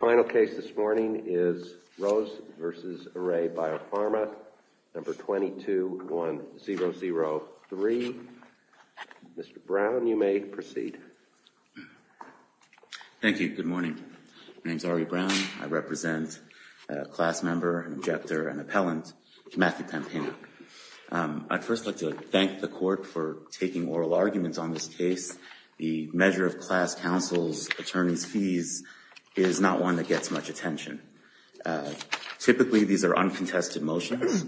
Final case this morning is Rose v. Array Biopharma, No. 22-1003. Mr. Brown, you may proceed. Thank you. Good morning. My name is Ari Brown. I represent a class member, injector, and appellant, Matthew Pampano. I'd first like to thank the court for taking oral arguments on this case. The measure of class counsel's attorney's fees is not one that gets much attention. Typically, these are uncontested motions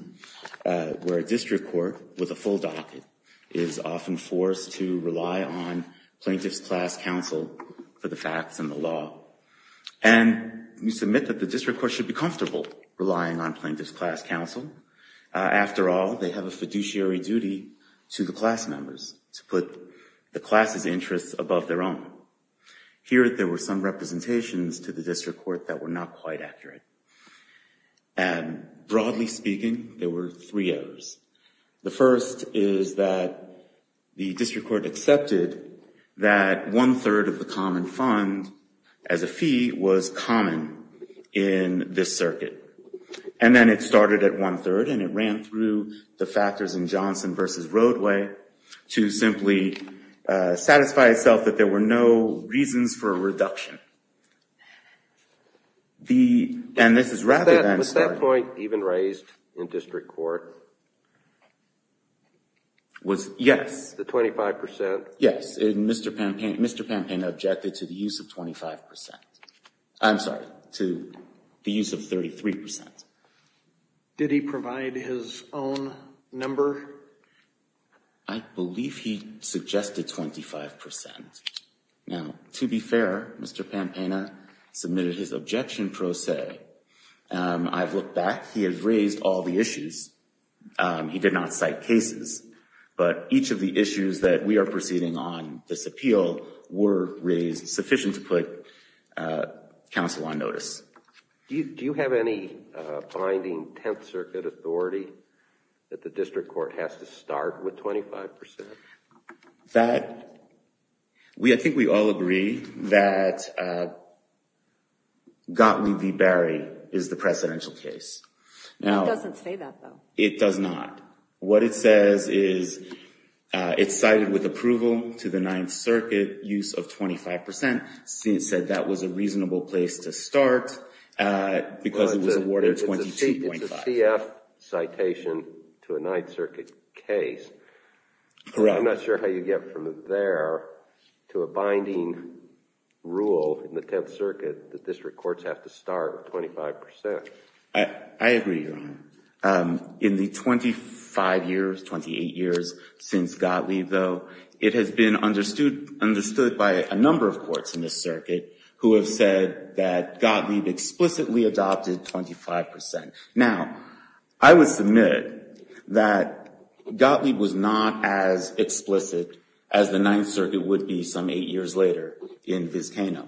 where a district court with a full docket is often forced to rely on plaintiff's class counsel for the facts and the law. And we submit that the district court should be comfortable relying on plaintiff's class counsel. After all, they have a fiduciary duty to the class members to put the class's interests above their own. Here, there were some representations to the district court that were not quite accurate. Broadly speaking, there were three errors. The first is that the district court accepted that one-third of the common fund as a fee was common in this circuit. And then it started at one-third, and it ran through the factors in Johnson v. Roadway to simply satisfy itself that there were no reasons for a reduction. And this is rather than... Was that point even raised in district court? Was yes. The 25%? Yes. And Mr. Pampana objected to the use of 25%. I'm sorry, to the use of 33%. Did he provide his own number? I believe he suggested 25%. Now, to be fair, Mr. Pampana submitted his objection pro se. I've looked back. He has raised all the issues. He did not cite cases. But each of the issues that we are proceeding on this appeal were raised sufficient to put counsel on notice. Do you have any binding Tenth Circuit authority that the district court has to start with 25%? That... I think we all agree that Gottlieb v. Barry is the presidential case. It doesn't say that, though. It does not. What it says is, it's cited with approval to the Ninth Circuit use of 25%. It said that was a reasonable place to start because it was awarded 22.5. It's a CF citation to a Ninth Circuit case. Correct. I'm not sure how you get from there to a binding rule in the Tenth Circuit that district courts have to start with 25%. I agree, Your Honor. In the 25 years, 28 years since Gottlieb, though, it has been understood by a number of courts in this circuit who have said that Gottlieb explicitly adopted 25%. Now, I would submit that Gottlieb was not as explicit as the Ninth Circuit would be some eight years later in Vizcano.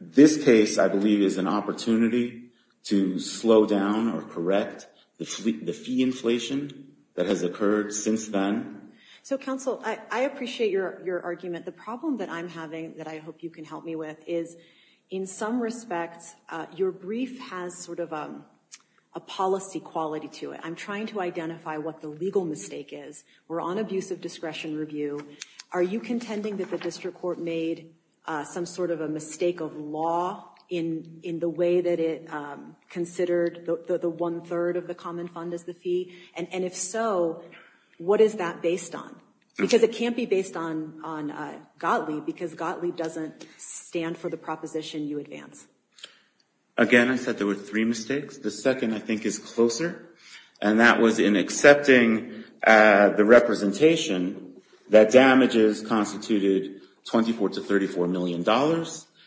This case, I believe, is an opportunity to slow down or correct the fee inflation that has occurred since then. So counsel, I appreciate your argument. The problem that I'm having that I hope you can help me with is, in some respects, your brief has sort of a policy quality to it. I'm trying to identify what the legal mistake is. We're on abuse of discretion review. Are you contending that the district court made some sort of a mistake of law in the way that it considered the one-third of the common fund as the fee? And if so, what is that based on? Because it can't be based on Gottlieb because Gottlieb doesn't stand for the proposition you advance. Again, I said there were three mistakes. The second, I think, is closer. And that was in accepting the representation that damages constituted $24 to $34 million.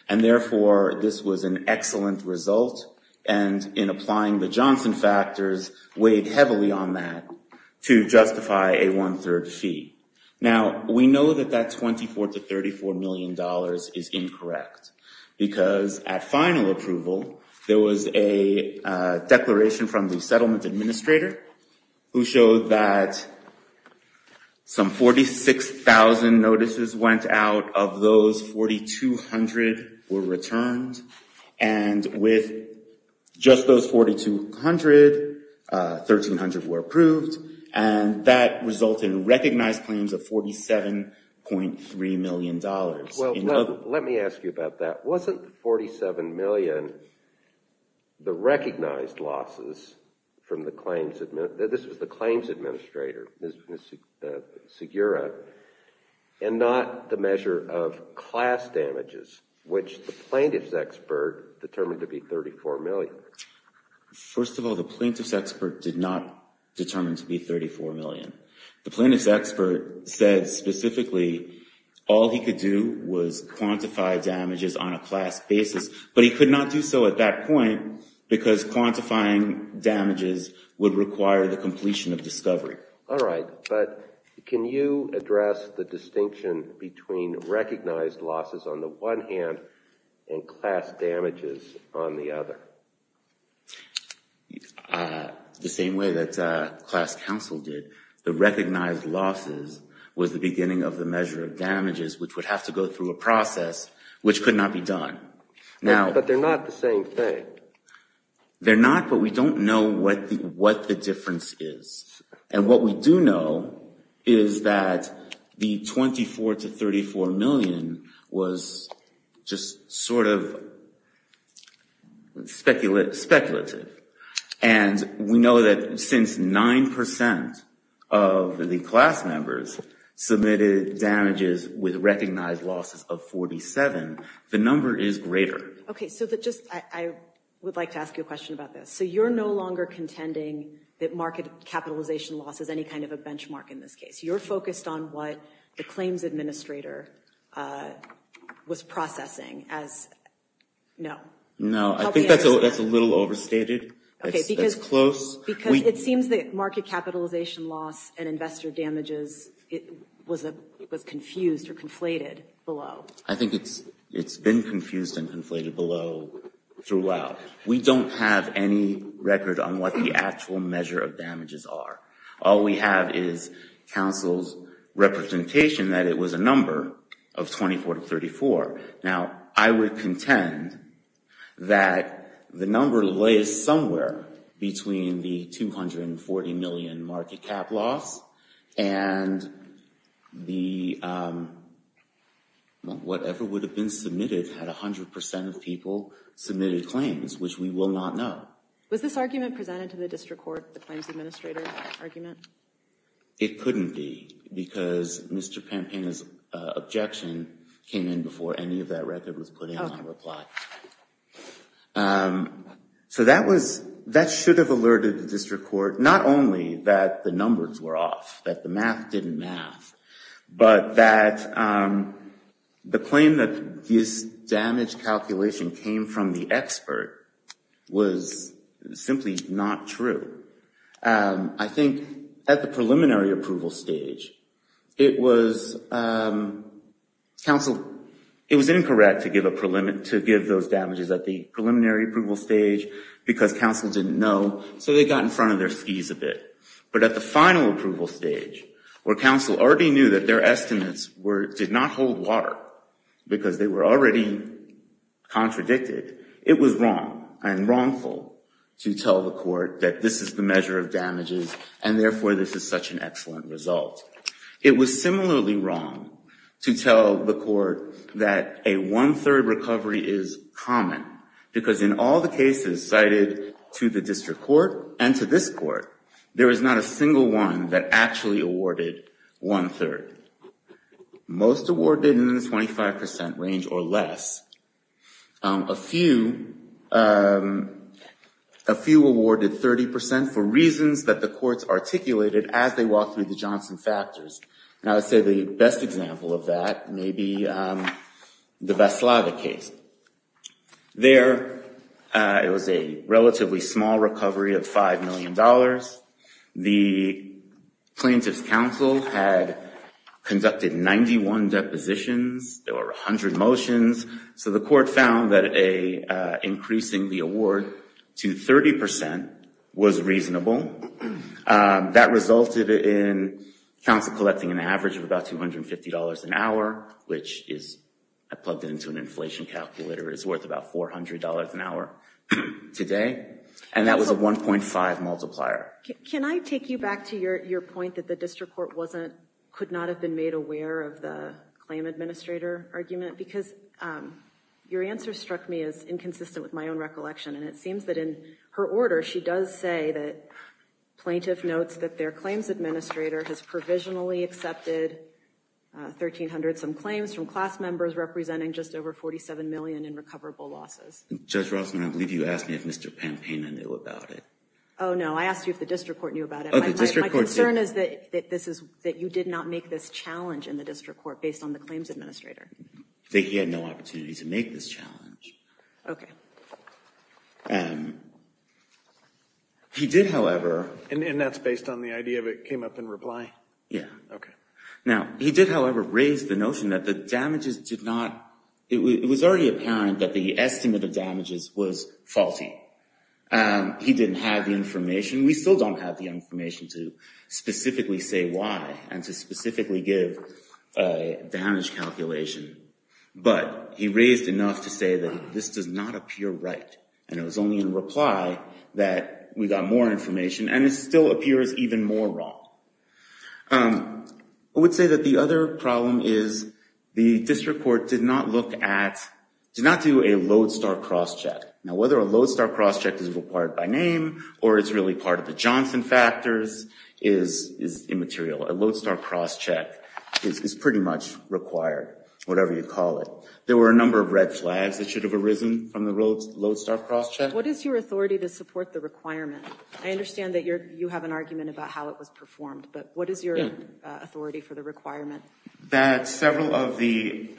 And therefore, this was an excellent result. And in applying the Johnson factors, weighed heavily on that to justify a one-third fee. Now, we know that that $24 to $34 million is incorrect. Because at final approval, there was a declaration from the settlement administrator who showed that some 46,000 notices went out of those, 4,200 were returned. And with just those 4,200, 1,300 were approved. And that resulted in recognized claims of $47.3 million. Well, let me ask you about that. Wasn't $47 million the recognized losses from the claims administrator, Ms. Segura, and not the measure of class damages, which the plaintiff's expert determined to be $34 million? First of all, the plaintiff's expert did not determine to be $34 million. The plaintiff's expert said specifically, all he could do was quantify damages on a class basis. But he could not do so at that point, because quantifying damages would require the completion of discovery. All right. But can you address the distinction between recognized losses on the one hand and class damages on the other? The same way that class counsel did, the recognized losses was the beginning of the measure of damages, which would have to go through a process, which could not be done. But they're not the same thing. They're not, but we don't know what the difference is. And what we do know is that the $24 to $34 million was just sort of speculative. And we know that since 9% of the class members submitted damages with recognized losses of $47, the number is greater. Okay, so I would like to ask you a question about this. So you're no longer contending that market capitalization loss is any kind of a benchmark in this case. You're focused on what the claims administrator was processing as, no. No, I think that's a little overstated. Okay, because it seems that market capitalization loss and investor damages was confused or conflated below. I think it's been confused and conflated below throughout. We don't have any record on what the actual measure of damages are. All we have is counsel's representation that it was a number of $24 to $34. Now, I would contend that the number lays somewhere between the $240 million market cap loss and the whatever would have been submitted had 100% of people submitted claims, which we will not know. Was this argument presented to the district court, the claims administrator argument? It couldn't be because Mr. Pampana's objection came in before any of that record was put in on reply. So that should have alerted the district court, not only that the numbers were off, that the math didn't math, but that the claim that this damage calculation came from the expert was simply not true. I think at the preliminary approval stage, it was incorrect to give those damages at the preliminary approval stage because counsel didn't know, so they got in front of their skis a bit. But at the final approval stage, where counsel already knew that their estimates did not hold water because they were already contradicted, it was wrong and wrongful to tell the court that this is the measure of damages and therefore this is such an excellent result. It was similarly wrong to tell the court that a one-third recovery is common because in all the cases cited to the district court and to this court, there is not a single one that actually awarded one-third. Most awarded in the 25% range or less. A few awarded 30% for reasons that the courts articulated as they walked through the Johnson factors. And I would say the best example of that may be the Veslada case. There, it was a relatively small recovery of $5 million. The plaintiff's counsel had conducted 91 depositions. There were 100 motions. So the court found that increasing the award to 30% was reasonable. That resulted in counsel collecting an average of about $250 an hour, which is, I plugged it into an inflation calculator, is worth about $400 an hour today. And that was a 1.5 multiplier. Can I take you back to your point that the district court wasn't, could not have been made aware of the claim administrator argument? Because your answer struck me as inconsistent with my own recollection. And it seems that in her order, she does say that plaintiff notes that their claims administrator has provisionally accepted $1,300 some claims from class members representing just over $47 million in recoverable losses. Judge Rossman, I believe you asked me if Mr. Pampaina knew about it. Oh, no, I asked you if the district court knew about it. My concern is that this is, that you did not make this challenge in the district court based on the claims administrator. That he had no opportunity to make this challenge. Okay. He did, however... And that's based on the idea of it came up in reply? Yeah. Okay. Now, he did, however, raise the notion that the damages did not, it was already apparent that the estimate of damages was faulty. He didn't have the information. We still don't have the information to specifically say why and to specifically give a damage calculation. But he raised enough to say that this does not appear right. And it was only in reply that we got more information. And it still appears even more wrong. I would say that the other problem is the district court did not look at, did not do a lodestar crosscheck. Now, whether a lodestar crosscheck is required by name or it's really part of the Johnson factors is immaterial. A lodestar crosscheck is pretty much required, whatever you call it. There were a number of red flags that should have arisen from the lodestar crosscheck. What is your authority to support the requirement? I understand that you have an argument about how it was performed, but what is your authority for the requirement? That several of the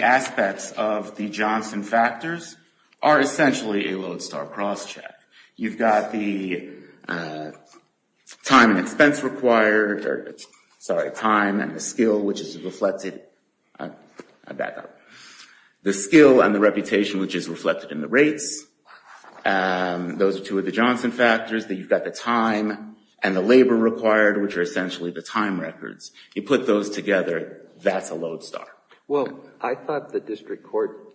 aspects of the Johnson factors are essentially a lodestar crosscheck. You've got the time and expense required, sorry, time and the skill, which is reflected, I'll back up. The skill and the reputation, which is reflected in the rates, those are two of the Johnson factors. Then you've got the time and the labor required, which are essentially the time records. You put those together, that's a lodestar. Well, I thought the district court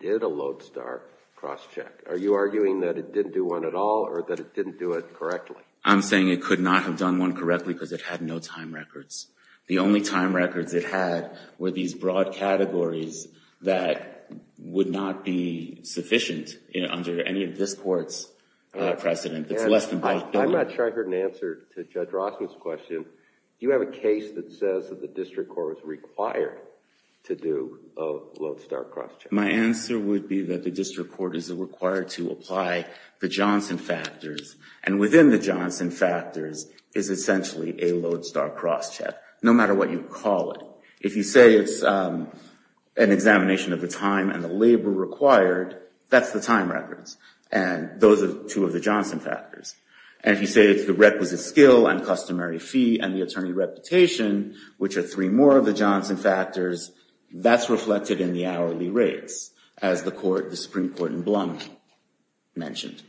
did a lodestar crosscheck. Are you arguing that it didn't do one at all or that it didn't do it correctly? I'm saying it could not have done one correctly because it had no time records. The only time records it had were these broad categories that would not be sufficient under any of this court's precedent. It's less than by a third. I'm not sure I heard an answer to Judge Rossman's question. Do you have a case that says that the district court was required to do a lodestar crosscheck? My answer would be that the district court is required to apply the Johnson factors, and within the Johnson factors is essentially a lodestar crosscheck, no matter what you call it. If you say it's an examination of the time and the labor required, that's the time records, and those are two of the Johnson factors. And if you say it's the requisite skill and customary fee and the attorney reputation, which are three more of the Johnson factors, that's reflected in the hourly rates, as the Supreme Court in Blum mentioned.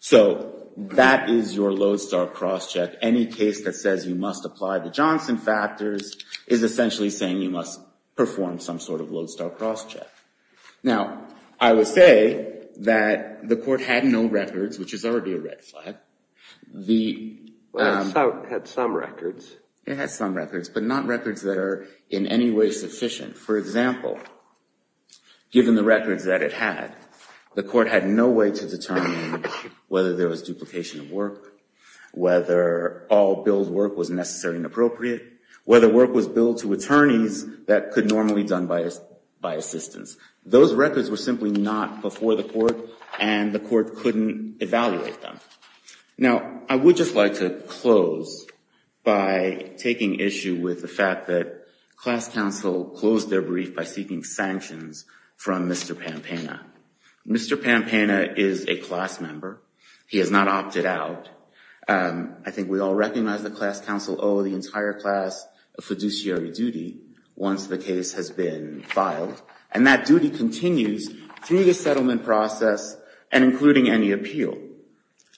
So that is your lodestar crosscheck. Any case that says you must apply the Johnson factors is essentially saying you must perform some sort of lodestar crosscheck. Now, I would say that the court had no records, which is already a red flag. The- Well, it had some records. It had some records, but not records that are in any way sufficient. For example, given the records that it had, the court had no way to determine whether there was duplication of work, whether all billed work was necessary and appropriate, whether work was billed to attorneys that could normally be done by assistance. Those records were simply not before the court, and the court couldn't evaluate them. Now, I would just like to close by taking issue with the fact that class counsel closed their brief by seeking sanctions from Mr. Pampana. Mr. Pampana is a class member. He has not opted out. I think we all recognize that class counsel owe the entire class a fiduciary duty once the case has been filed, and that duty continues through the settlement process and including any appeal.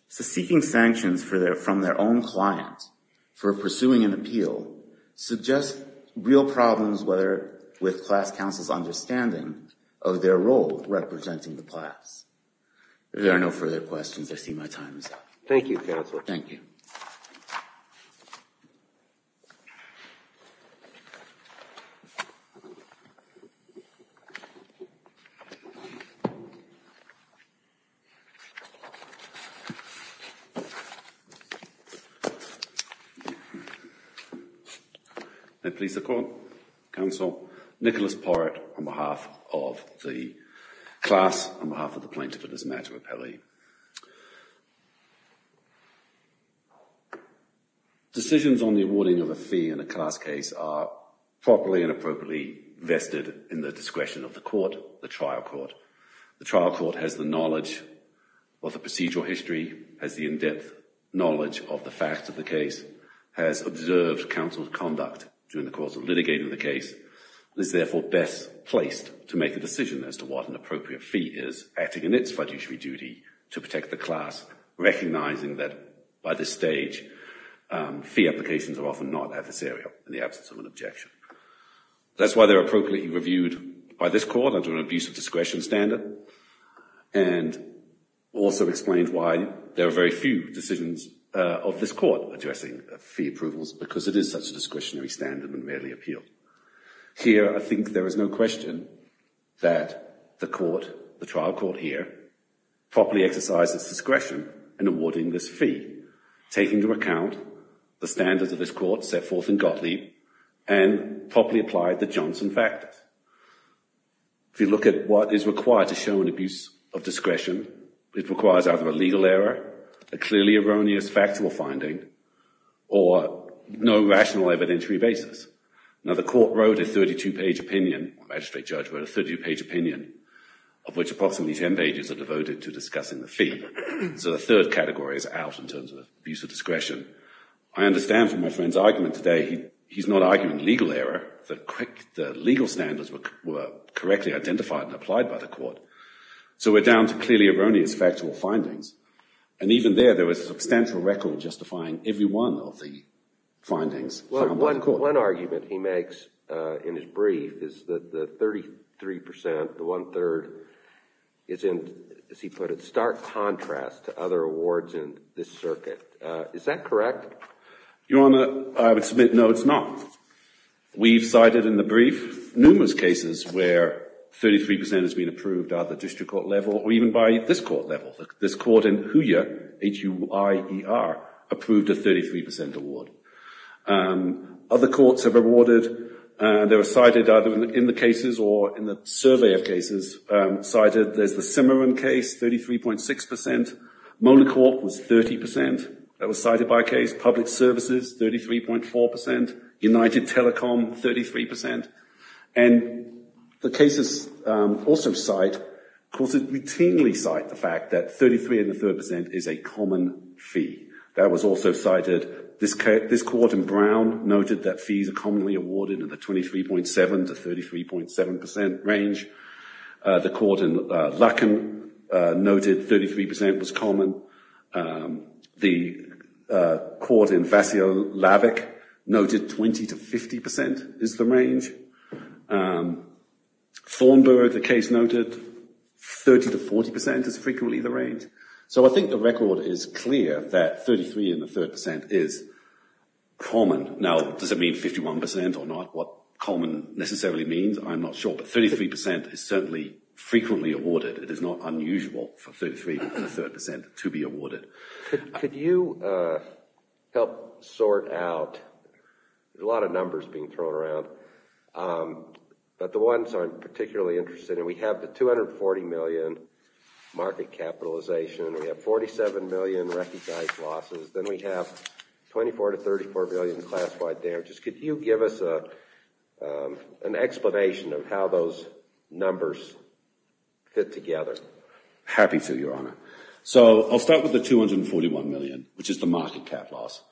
So seeking sanctions from their own client for pursuing an appeal suggests real problems with class counsel's understanding of their role representing the class. If there are no further questions, I see my time is up. Thank you, Counselor. Thank you. May it please the Court, Counsel Nicholas Porrett on behalf of the class, on behalf of the plaintiff and his matter of appellee. Decisions on the awarding of a fee in a class case are properly and appropriately vested in the discretion of the court, the trial court. The trial court has the knowledge of the procedural history, has the in-depth knowledge of the facts of the case, has observed counsel's conduct during the course of litigating the case, is therefore best placed to make a decision as to what an appropriate fee is, acting in its fiduciary duty to protect the class, recognizing that by this stage, fee applications are often not adversarial in the absence of an objection. That's why they're appropriately reviewed by this court under an abusive discretion standard and also explains why there are very few decisions of this court addressing fee approvals because it is such a discretionary standard and rarely appealed. Here, I think there is no question that the court, the trial court here, properly exercised its discretion in awarding this fee, taking into account the standards of this court set forth in Gottlieb and properly applied the Johnson factors. If you look at what is required to show an abuse of discretion, it requires either a legal error, a clearly erroneous factual finding, or no rational evidentiary basis. Now, the court wrote a 32-page opinion, magistrate judge wrote a 32-page opinion, of which approximately 10 pages are devoted to discussing the fee. So the third category is out in terms of abuse of discretion. I understand from my friend's argument today, he's not arguing legal error, the legal standards were correctly identified and applied by the court. So we're down to clearly erroneous factual findings. And even there, there was a substantial record justifying every one of the findings. Well, one argument he makes in his brief is that the 33%, the one third, is in, as he put it, stark contrast to other awards in this circuit. Is that correct? Your Honour, I would submit no, it's not. We've cited in the brief numerous cases where 33% has been approved at the district court level, or even by this court level. This court in Huya, H-U-I-E-R, approved a 33% award. Other courts have awarded, they were cited either in the cases or in the survey of cases, cited, there's the Cimarron case, 33.6%. Molencourt was 30%. That was cited by a case. Public Services, 33.4%. United Telecom, 33%. And the cases also cite, courts routinely cite the fact that 33 and a third percent is a common fee. That was also cited, this court in Brown noted that fees are commonly awarded at the 23.7 to 33.7% range. The court in Luckin noted 33% was common. The court in Vassilavik noted 20 to 50% is the range. Thornburgh, the case noted 30 to 40% is frequently the range. So I think the record is clear that 33 and a third percent is common. Now, does it mean 51% or not? What common necessarily means, I'm not sure, but 33% is certainly frequently awarded. It is not unusual for 33 and a third percent to be awarded. Could you help sort out, there's a lot of numbers being thrown around, but the ones I'm particularly interested in, we have the 240 million market capitalization, we have 47 million recognized losses, then we have 24 to 34 billion classified damages. Could you give us an explanation of how those numbers fit together? Happy to, Your Honor. So I'll start with the 241 million, which is the market cap loss.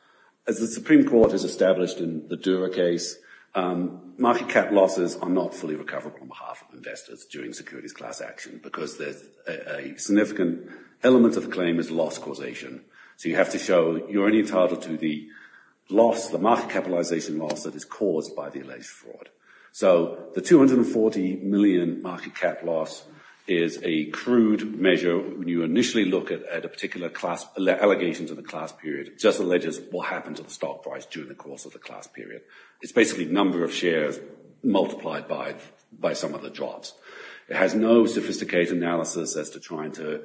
As the Supreme Court has established in the Dura case, market cap losses are not fully recoverable on behalf of investors during securities class action because there's a significant element of the claim is loss causation. So you have to show you're only entitled to the loss, the market capitalization loss that is caused by the alleged fraud. So the 240 million market cap loss is a crude measure when you initially look at a particular class, allegations of the class period, just alleges what happened to the stock price during the course of the class period. It's basically number of shares multiplied by some of the drops. It has no sophisticated analysis as to trying to,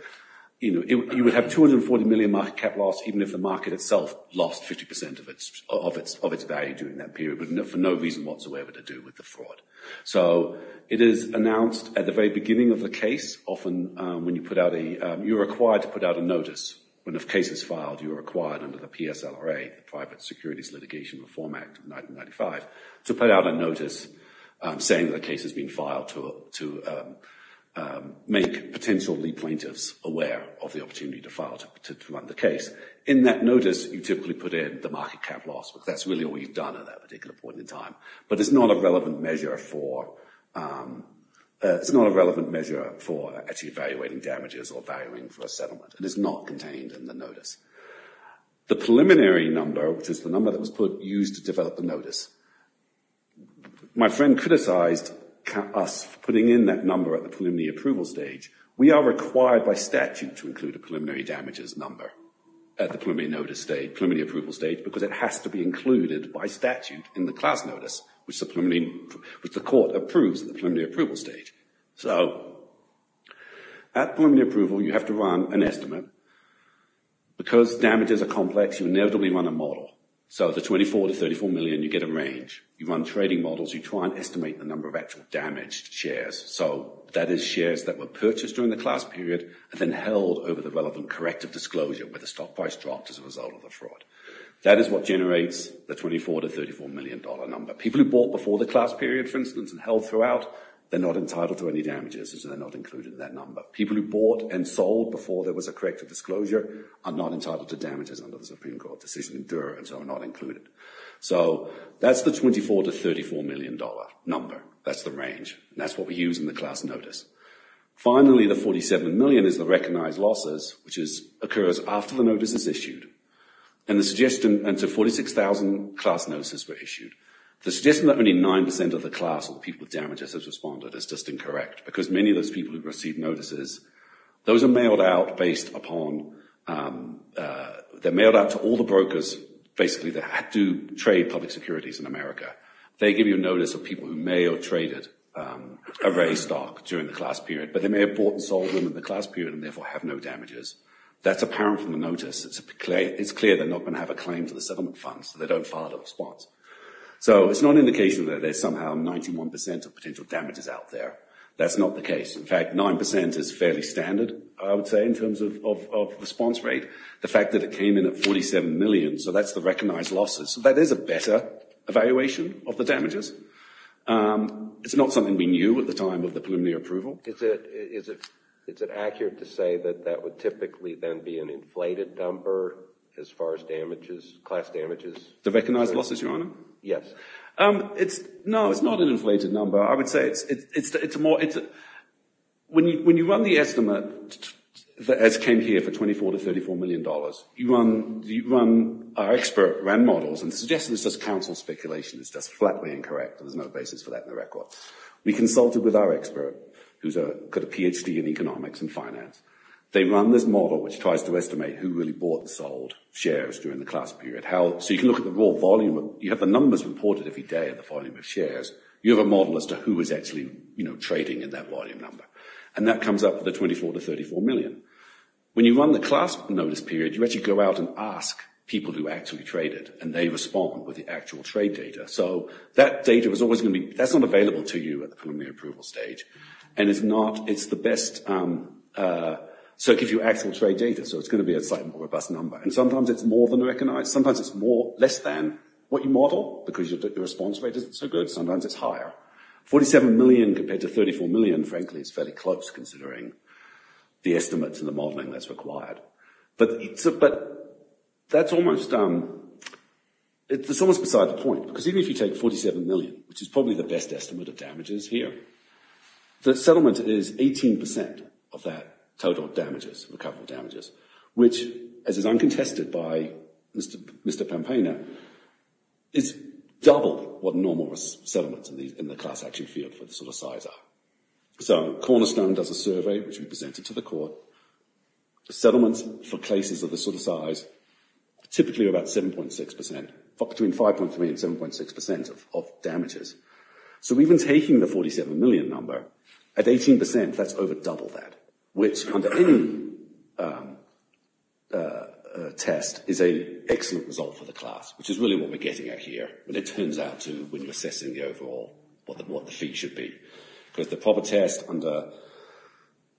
you would have 240 million market cap loss even if the market itself lost 50% of its value during that period, but for no reason whatsoever to do with the fraud. So it is announced at the very beginning of the case, often when you put out a, you're required to put out a notice when a case is filed, you are required under the PSLRA, Private Securities Litigation Reform Act of 1995, to put out a notice saying that a case has been filed to make potentially plaintiffs aware of the opportunity to file, to run the case. In that notice, you typically put in the market cap loss because that's really all you've done at that particular point in time, but it's not a relevant measure for, it's not a relevant measure for actually evaluating damages or valuing for a settlement. It is not contained in the notice. The preliminary number, which is the number that was put, used to develop the notice. My friend criticized us putting in that number at the preliminary approval stage. We are required by statute to include a preliminary damages number at the preliminary notice stage, preliminary approval stage, because it has to be included by statute in the class notice, which the court approves at the preliminary approval stage. So at preliminary approval, you have to run an estimate. Because damages are complex, you inevitably run a model. So the 24 to 34 million, you get a range. You run trading models, you try and estimate the number of actual damaged shares. So that is shares that were purchased during the class period and then held over the relevant corrective disclosure where the stock price dropped as a result of the fraud. That is what generates the 24 to $34 million number. People who bought before the class period, for instance, and held throughout, they're not entitled to any damages because they're not included in that number. People who bought and sold before there was a corrective disclosure are not entitled to damages under the Supreme Court decision in Dura and so are not included. So that's the 24 to $34 million number. That's the range. And that's what we use in the class notice. Finally, the 47 million is the recognized losses, which occurs after the notice is issued. And the suggestion, and so 46,000 class notices were issued. The suggestion that only 9% of the class of the people with damages has responded is just incorrect because many of those people who've received notices, those are mailed out based upon, they're mailed out to all the brokers, basically, that do trade public securities in America. They give you a notice of people who mail traded a raised stock during the class period, but they may have bought and sold them in the class period and therefore have no damages. That's apparent from the notice. It's clear they're not gonna have a claim to the settlement fund, so they don't file a response. So it's not an indication that there's somehow 91% of potential damages out there. That's not the case. In fact, 9% is fairly standard, I would say, in terms of response rate. The fact that it came in at 47 million, so that's the recognized losses. That is a better evaluation of the damages. It's not something we knew at the time of the preliminary approval. Is it accurate to say that that would typically then be an inflated number as far as damages, class damages? The recognized losses, Your Honor? Yes. No, it's not an inflated number. I would say it's a more, when you run the estimate, that has came here for 24 to $34 million, you run, our expert ran models and suggested it's just counsel speculation. It's just flatly incorrect. There's no basis for that in the record. We consulted with our expert, who's got a PhD in economics and finance. They run this model which tries to estimate who really bought and sold shares during the class period. So you can look at the raw volume. You have the numbers reported every day of the volume of shares. You have a model as to who is actually trading in that volume number. And that comes up for the 24 to $34 million. When you run the class notice period, you actually go out and ask people who actually traded and they respond with the actual trade data. So that data was always gonna be, that's not available to you at the preliminary approval stage and it's not, it's the best, so it gives you actual trade data. So it's gonna be a slightly more robust number. And sometimes it's more than recognized. Sometimes it's less than what you model because your response rate isn't so good. Sometimes it's higher. 47 million compared to 34 million, frankly, is fairly close considering the estimates and the modeling that's required. But that's almost, it's almost beside the point. Because even if you take 47 million, which is probably the best estimate of damages here, the settlement is 18% of that total damages, recoverable damages, which as is uncontested by Mr. Pampaina, is double what normal settlements in the class actually feel for the sort of size are. So Cornerstone does a survey, which we presented to the court. Settlements for cases of this sort of size, typically about 7.6%, between 5.3 and 7.6% of damages. So even taking the 47 million number, at 18%, that's over double that, which under any test is an excellent result for the class. Which is really what we're getting at here, when it turns out to, when you're assessing the overall, what the fee should be. Because the proper test under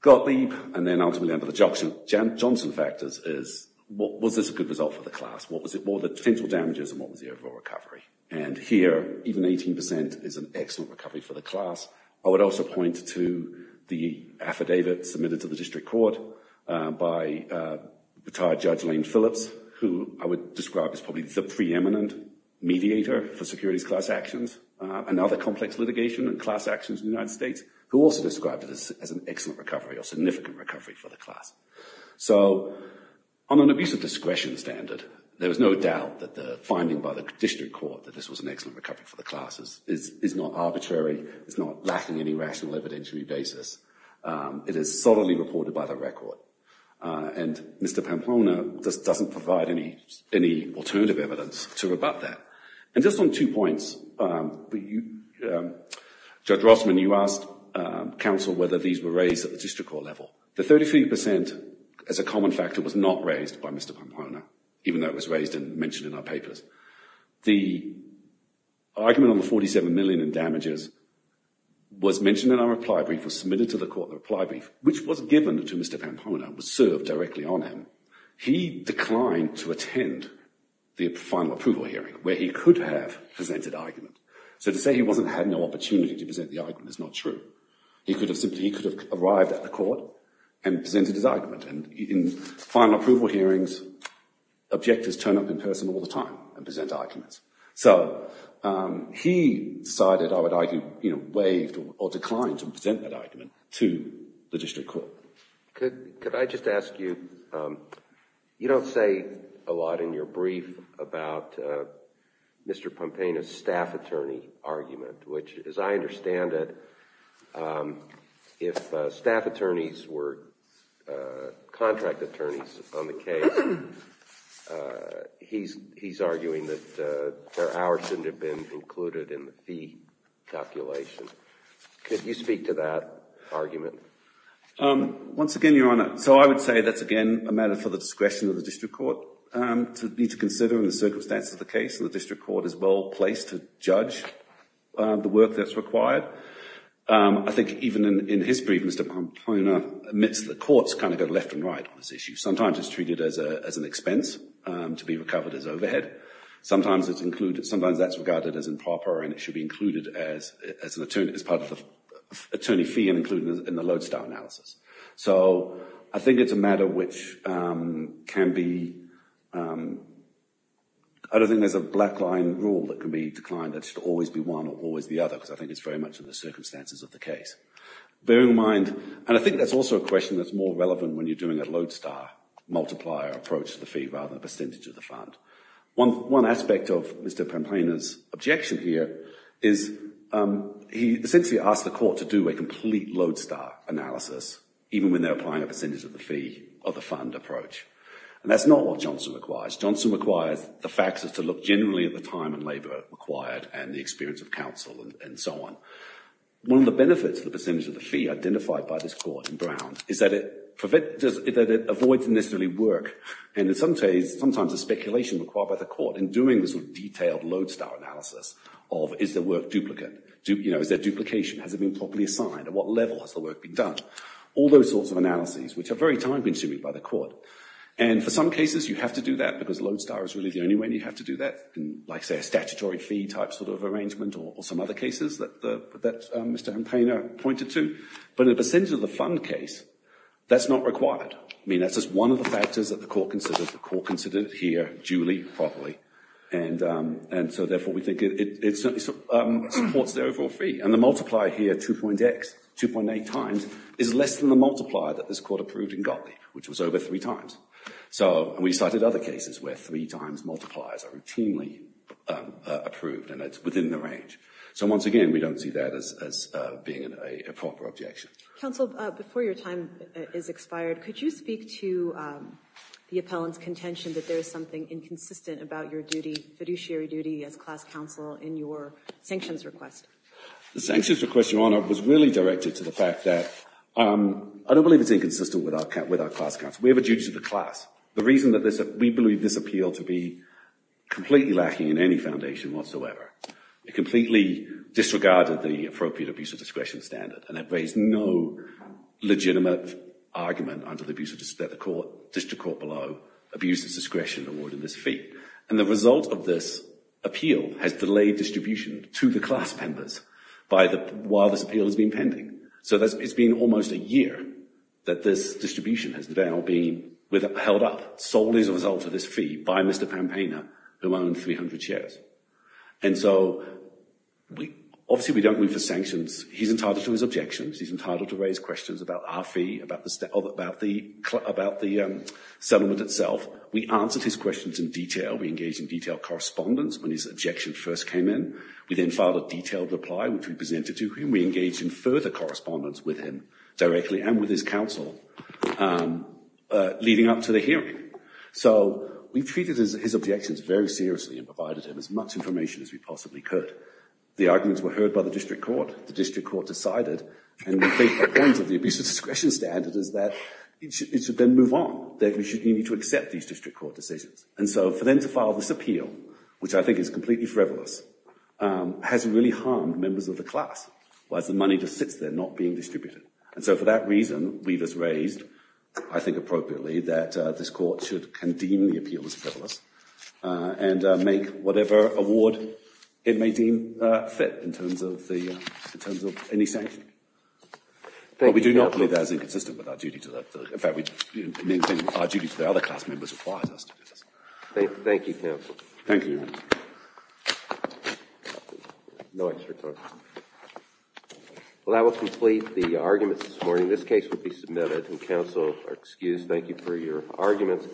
Gottlieb, and then ultimately under the Johnson factors, is was this a good result for the class? What were the potential damages and what was the overall recovery? And here, even 18% is an excellent recovery for the class. I would also point to the affidavit submitted to the district court by retired Judge Lane Phillips, who I would describe as probably the preeminent mediator for securities class actions. Another complex litigation and class actions in the United States, who also described it as an excellent recovery, or significant recovery for the class. So on an abuse of discretion standard, there was no doubt that the finding by the district court, that this was an excellent recovery for the classes, is not arbitrary, it's not lacking any rational evidentiary basis. It is solidly reported by the record. And Mr. Pampona just doesn't provide any alternative evidence to rebut that. And just on two points, Judge Rossman, you asked counsel whether these were raised at the district court level. The 33%, as a common factor, was not raised by Mr. Pampona, even though it was raised and mentioned in our papers. The argument on the 47 million in damages was mentioned in our reply brief, was submitted to the court in the reply brief, which was given to Mr. Pampona, was served directly on him. He declined to attend the final approval hearing, where he could have presented argument. So to say he wasn't had no opportunity to present the argument is not true. He could have simply, he could have arrived at the court and presented his argument. And in final approval hearings, objectors turn up in person all the time and present arguments. So he decided, I would argue, waived or declined to present that argument to the district court. Could I just ask you, you don't say a lot in your brief about Mr. Pampona's staff attorney argument, which, as I understand it, if staff attorneys were contract attorneys on the case, he's arguing that their hours shouldn't have been included in the fee calculation. Could you speak to that argument? Once again, Your Honor, so I would say that's, again, a matter for the discretion of the district court to need to consider in the circumstances of the case. And the district court is well-placed to judge the work that's required. I think even in his brief, Mr. Pampona admits the courts kind of go left and right on this issue. Sometimes it's treated as an expense to be recovered as overhead. Sometimes that's regarded as improper and it should be included as part of the attorney fee and included in the lodestar analysis. So I think it's a matter which can be, I don't think there's a black line rule that can be declined that should always be one or always the other, because I think it's very much in the circumstances of the case. Bearing in mind, and I think that's also a question that's more relevant when you're doing a lodestar multiplier approach to the fee rather than a percentage of the fund. One aspect of Mr. Pampona's objection here is he essentially asked the court to do a complete lodestar analysis, even when they're applying a percentage of the fee of the fund approach. And that's not what Johnson requires. Johnson requires the facts is to look generally at the time and labor required and the experience of counsel and so on. One of the benefits of the percentage of the fee identified by this court in Brown is that it avoids necessarily work. And in some cases, sometimes there's speculation required by the court in doing this detailed lodestar analysis of is the work duplicate? Is there duplication? Has it been properly assigned? At what level has the work been done? All those sorts of analyses, which are very time consuming by the court. And for some cases, you have to do that because lodestar is really the only way you have to do that. Like say a statutory fee type sort of arrangement or some other cases that Mr. Pampona pointed to. But in the percentage of the fund case, that's not required. I mean, that's just one of the factors that the court considered. The court considered it here duly, properly. And so therefore, we think it supports the overall fee. And the multiplier here, 2.X, 2.8 times, is less than the multiplier that this court approved in Gottlieb, which was over three times. So we cited other cases where three times multipliers are routinely approved and it's within the range. So once again, we don't see that as being a proper objection. Counsel, before your time is expired, could you speak to the appellant's contention that there is something inconsistent about your fiduciary duty as class counsel in your sanctions request? The sanctions request, Your Honor, was really directed to the fact that I don't believe it's inconsistent with our class counsel. We have a duty to the class. The reason that we believe this appeal to be completely lacking in any foundation whatsoever. It completely disregarded the appropriate abuse of discretion standard and it raised no legitimate argument under the District Court below abuse of discretion award in this fee. And the result of this appeal has delayed distribution to the class members while this appeal has been pending. So it's been almost a year that this distribution has now been held up, solely as a result of this fee, by Mr. Pampaina, who owned 300 shares. And so, obviously we don't go in for sanctions. He's entitled to his objections. He's entitled to raise questions about our fee, about the settlement itself. We answered his questions in detail. We engaged in detailed correspondence when his objection first came in. We then filed a detailed reply, which we presented to him. We engaged in further correspondence with him directly and with his counsel leading up to the hearing. So we treated his objections very seriously and provided him as much information as we possibly could. The arguments were heard by the District Court. The District Court decided, and we think the point of the abuse of discretion standard is that it should then move on. That we need to accept these District Court decisions. And so, for them to file this appeal, which I think is completely frivolous, has really harmed members of the class, whilst the money just sits there not being distributed. And so for that reason, we've just raised, I think appropriately, that this Court should condeem the appeal as frivolous and make whatever award it may deem fit in terms of any sanction. But we do not view that as inconsistent with our duty to that. In fact, we maintain our duty to the other class members requires us to do this. Thank you, counsel. Thank you. No extra time. Well, that will complete the arguments this morning. This case will be submitted and counsel are excused. Thank you for your arguments.